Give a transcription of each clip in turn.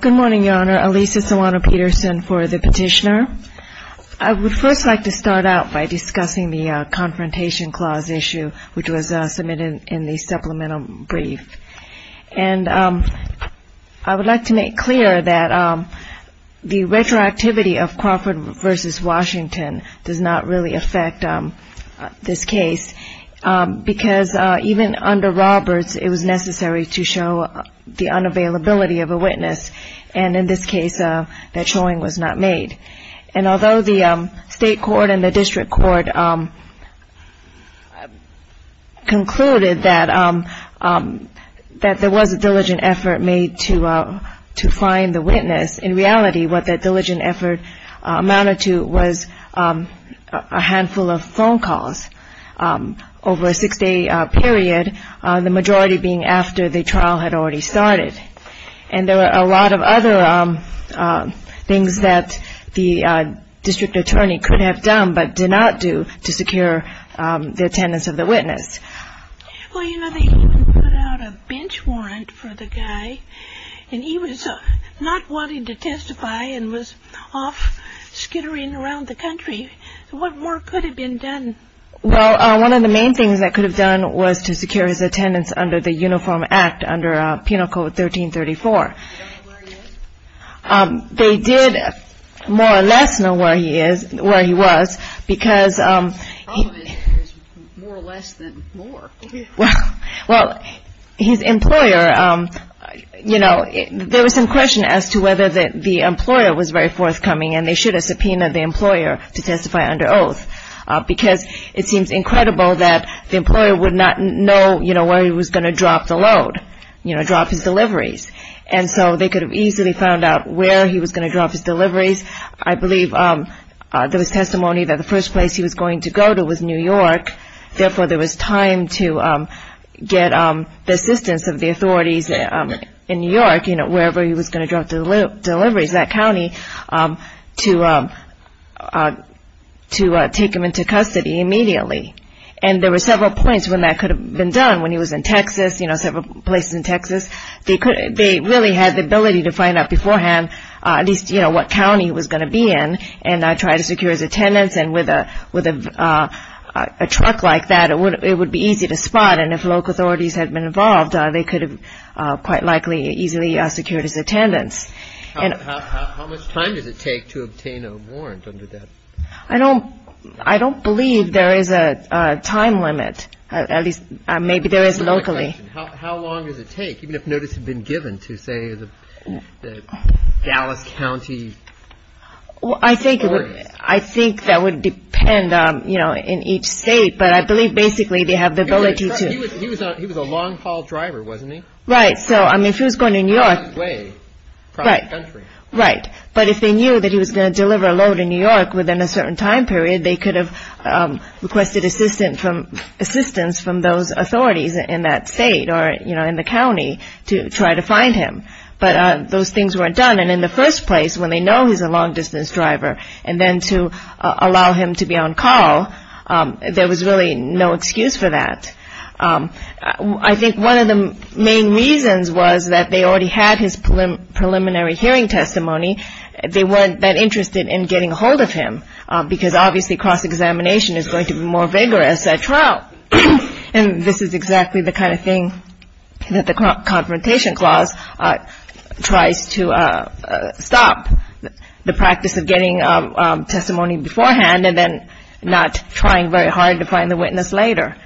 Good morning, Your Honor. Alisa Sawano-Peterson for the Petitioner. I would first like to start out by discussing the Confrontation Clause issue, which was submitted in the Supplemental Brief. And I would like to make clear that the retroactivity of Crawford v. Washington does not really affect this case, because even under Roberts, it was necessary to show the unavailability of a witness. And in this case, that showing was not made. And although the State Court and the District Court concluded that there was a diligent effort made to find the witness, in reality, what that diligent effort amounted to was a handful of phone calls over a six-day period, the majority being after the trial had already started. And there were a lot of other things that the District Attorney could have done but did not do to secure the attendance of the witness. Well, you know, they even put out a bench warrant for the guy, and he was not wanting to testify and was off skittering around the country. What more could have been done? Well, one of the main things that could have done was to secure his attendance under the Uniform Act, under Penal Code 1334. Do you know where he is? They did more or less know where he is, where he was, because Well, his employer, you know, there was some question as to whether the employer was very forthcoming, and they should have subpoenaed the employer to testify under oath, because it seems incredible that the employer would not know, you know, where he was going to drop the load, you know, drop his deliveries. And so they could have easily found out where he was going to drop his deliveries. I believe there was testimony that the first place he was going to go to was New York. Therefore, there was time to get the assistance of the authorities in New York, you know, wherever he was going to drop the deliveries, that county, to take him into custody immediately. And there were several points when that could have been done. When he was in Texas, you know, several places in Texas, they really had the ability to find out beforehand at least, you know, what county he was going to be in, and try to secure his attendance. And with a truck like that, it would be easy to spot. And if local authorities had been involved, they could have quite likely easily secured his attendance. How much time does it take to obtain a warrant under that? I don't believe there is a time limit. At least, maybe there is locally. How long does it take, even if notice had been given to, say, the Dallas County authorities? I think that would depend, you know, in each state. But I believe basically they have the ability to... He was a long haul driver, wasn't he? Right. So, I mean, if he was going to New York... He was on his way across the country. Right. But if they knew that he was going to deliver a load in New York within a certain time period, they could have requested assistance from those authorities in that state or, you know, in the county to try to find him. But those things weren't done. And in the first place, when they know he's a long distance driver, and then to allow him to be on call, there was really no excuse for that. I think one of the main reasons was that they already had his preliminary hearing testimony. They weren't that interested in getting a hold of him, because obviously cross-examination is going to be more vigorous at trial. And this is exactly the kind of thing that the confrontation clause tries to stop, the practice of getting testimony beforehand and then not trying very hard to find the witness later.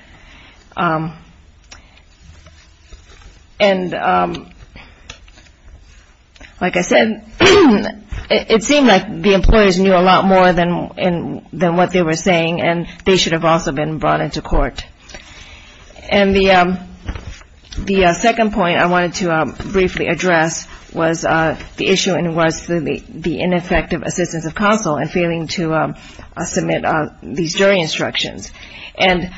And like I said, it seemed like the employers knew a lot more than what they were saying, and they should have also been brought into court. And the second point I wanted to briefly address was the issue and was the ineffective assistance of counsel in failing to submit these jury instructions. And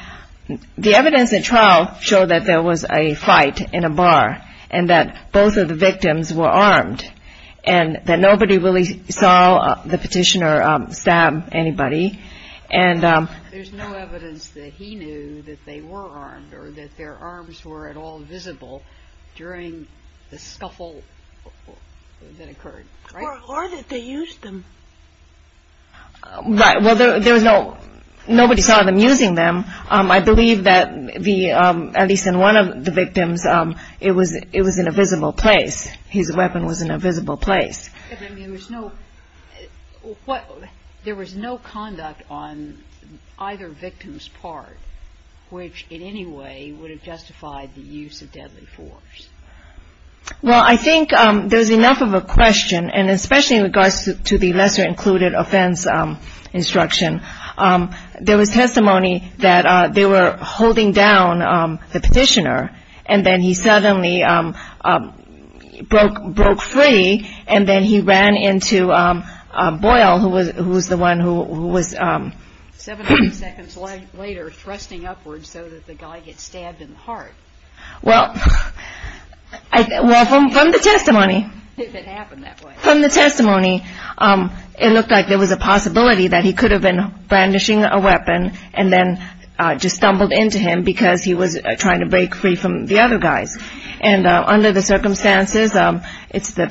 the evidence at trial showed that there was a fight in a bar and that both of the victims were armed and that nobody really saw the petitioner stab anybody. And there's no evidence that he knew that they were armed or that their arms were at all visible during the scuffle that occurred. Or that they used them. Well, there was no nobody saw them using them. I believe that the at least in one of the victims, it was it was in a visible place. His weapon was in a visible place. I mean, there was no what there was no conduct on either victim's part, which in any way would have justified the use of deadly force. Well, I think there's enough of a question, and especially in regards to the lesser included offense instruction, there was testimony that they were holding down the petitioner and then he suddenly broke broke free and then he ran into Boyle, who was the one who was seven seconds later thrusting upwards so that the guy gets stabbed in the heart. Well, I welcome from the testimony that happened that way from the testimony, it looked like there was a possibility that he could have been brandishing a weapon and then just stumbled into him because he was trying to break free from the other guys. And under the circumstances, it's the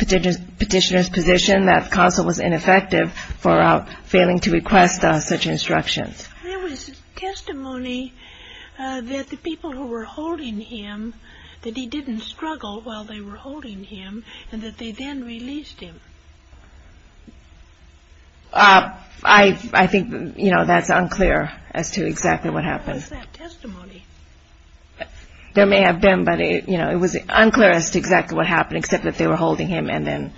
petitioner's position that counsel was ineffective for failing to request such instructions. There was testimony that the people who were holding him, that he didn't struggle while they were holding him and that they then released him. I think, you know, that's unclear as to exactly what happened. That testimony. There may have been, but, you know, it was unclear as to exactly what happened, except that they were holding him. And then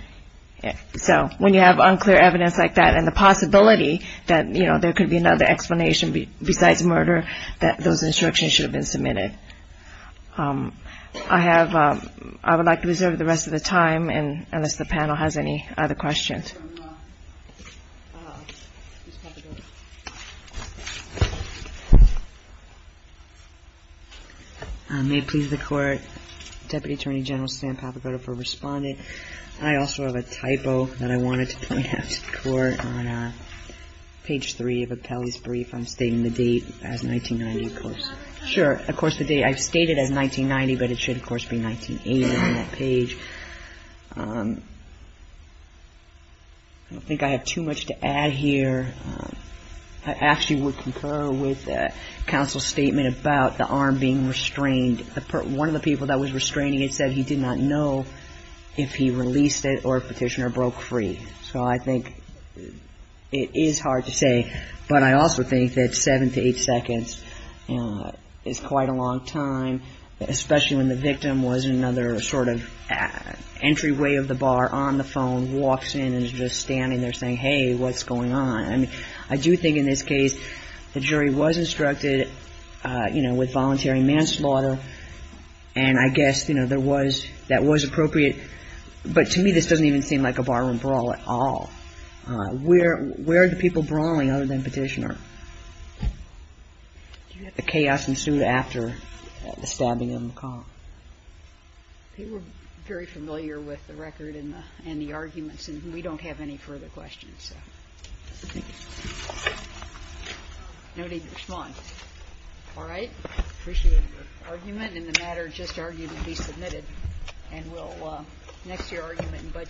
so when you have unclear evidence like that and the possibility that, you know, there could be another explanation besides murder, that those instructions should have been submitted. I have I would like to reserve the rest of the time and unless the panel has any other questions. May it please the court, Deputy Attorney General Sam Papagotto for responding. I also have a typo that I wanted to point out to the court on page three of Appellee's brief. I'm stating the date as 1990, of course. Sure. Of course, the date I've stated as 1990, but it should, of course, be 1980 on that page. I don't think I have too much to add here. I actually would concur with counsel's statement about the arm being restrained. One of the people that was restraining it said he did not know if he released it or petitioner broke free. So I think it is hard to say. But I also think that seven to eight seconds is quite a long time, especially when the victim was another sort of entryway of the bar on the phone, walks in and is just standing there saying, hey, what's going on? And I do think in this case, the jury was instructed, you know, with voluntary manslaughter. And I guess, you know, there was that was appropriate. But to me, this doesn't even seem like a barroom brawl at all. Where are the people brawling other than petitioner? The chaos ensued after the stabbing of McCall. They were very familiar with the record and the arguments, and we don't have any further questions. No need to respond. All right. Appreciate your argument in the matter. Just argued to be submitted and will next year argument.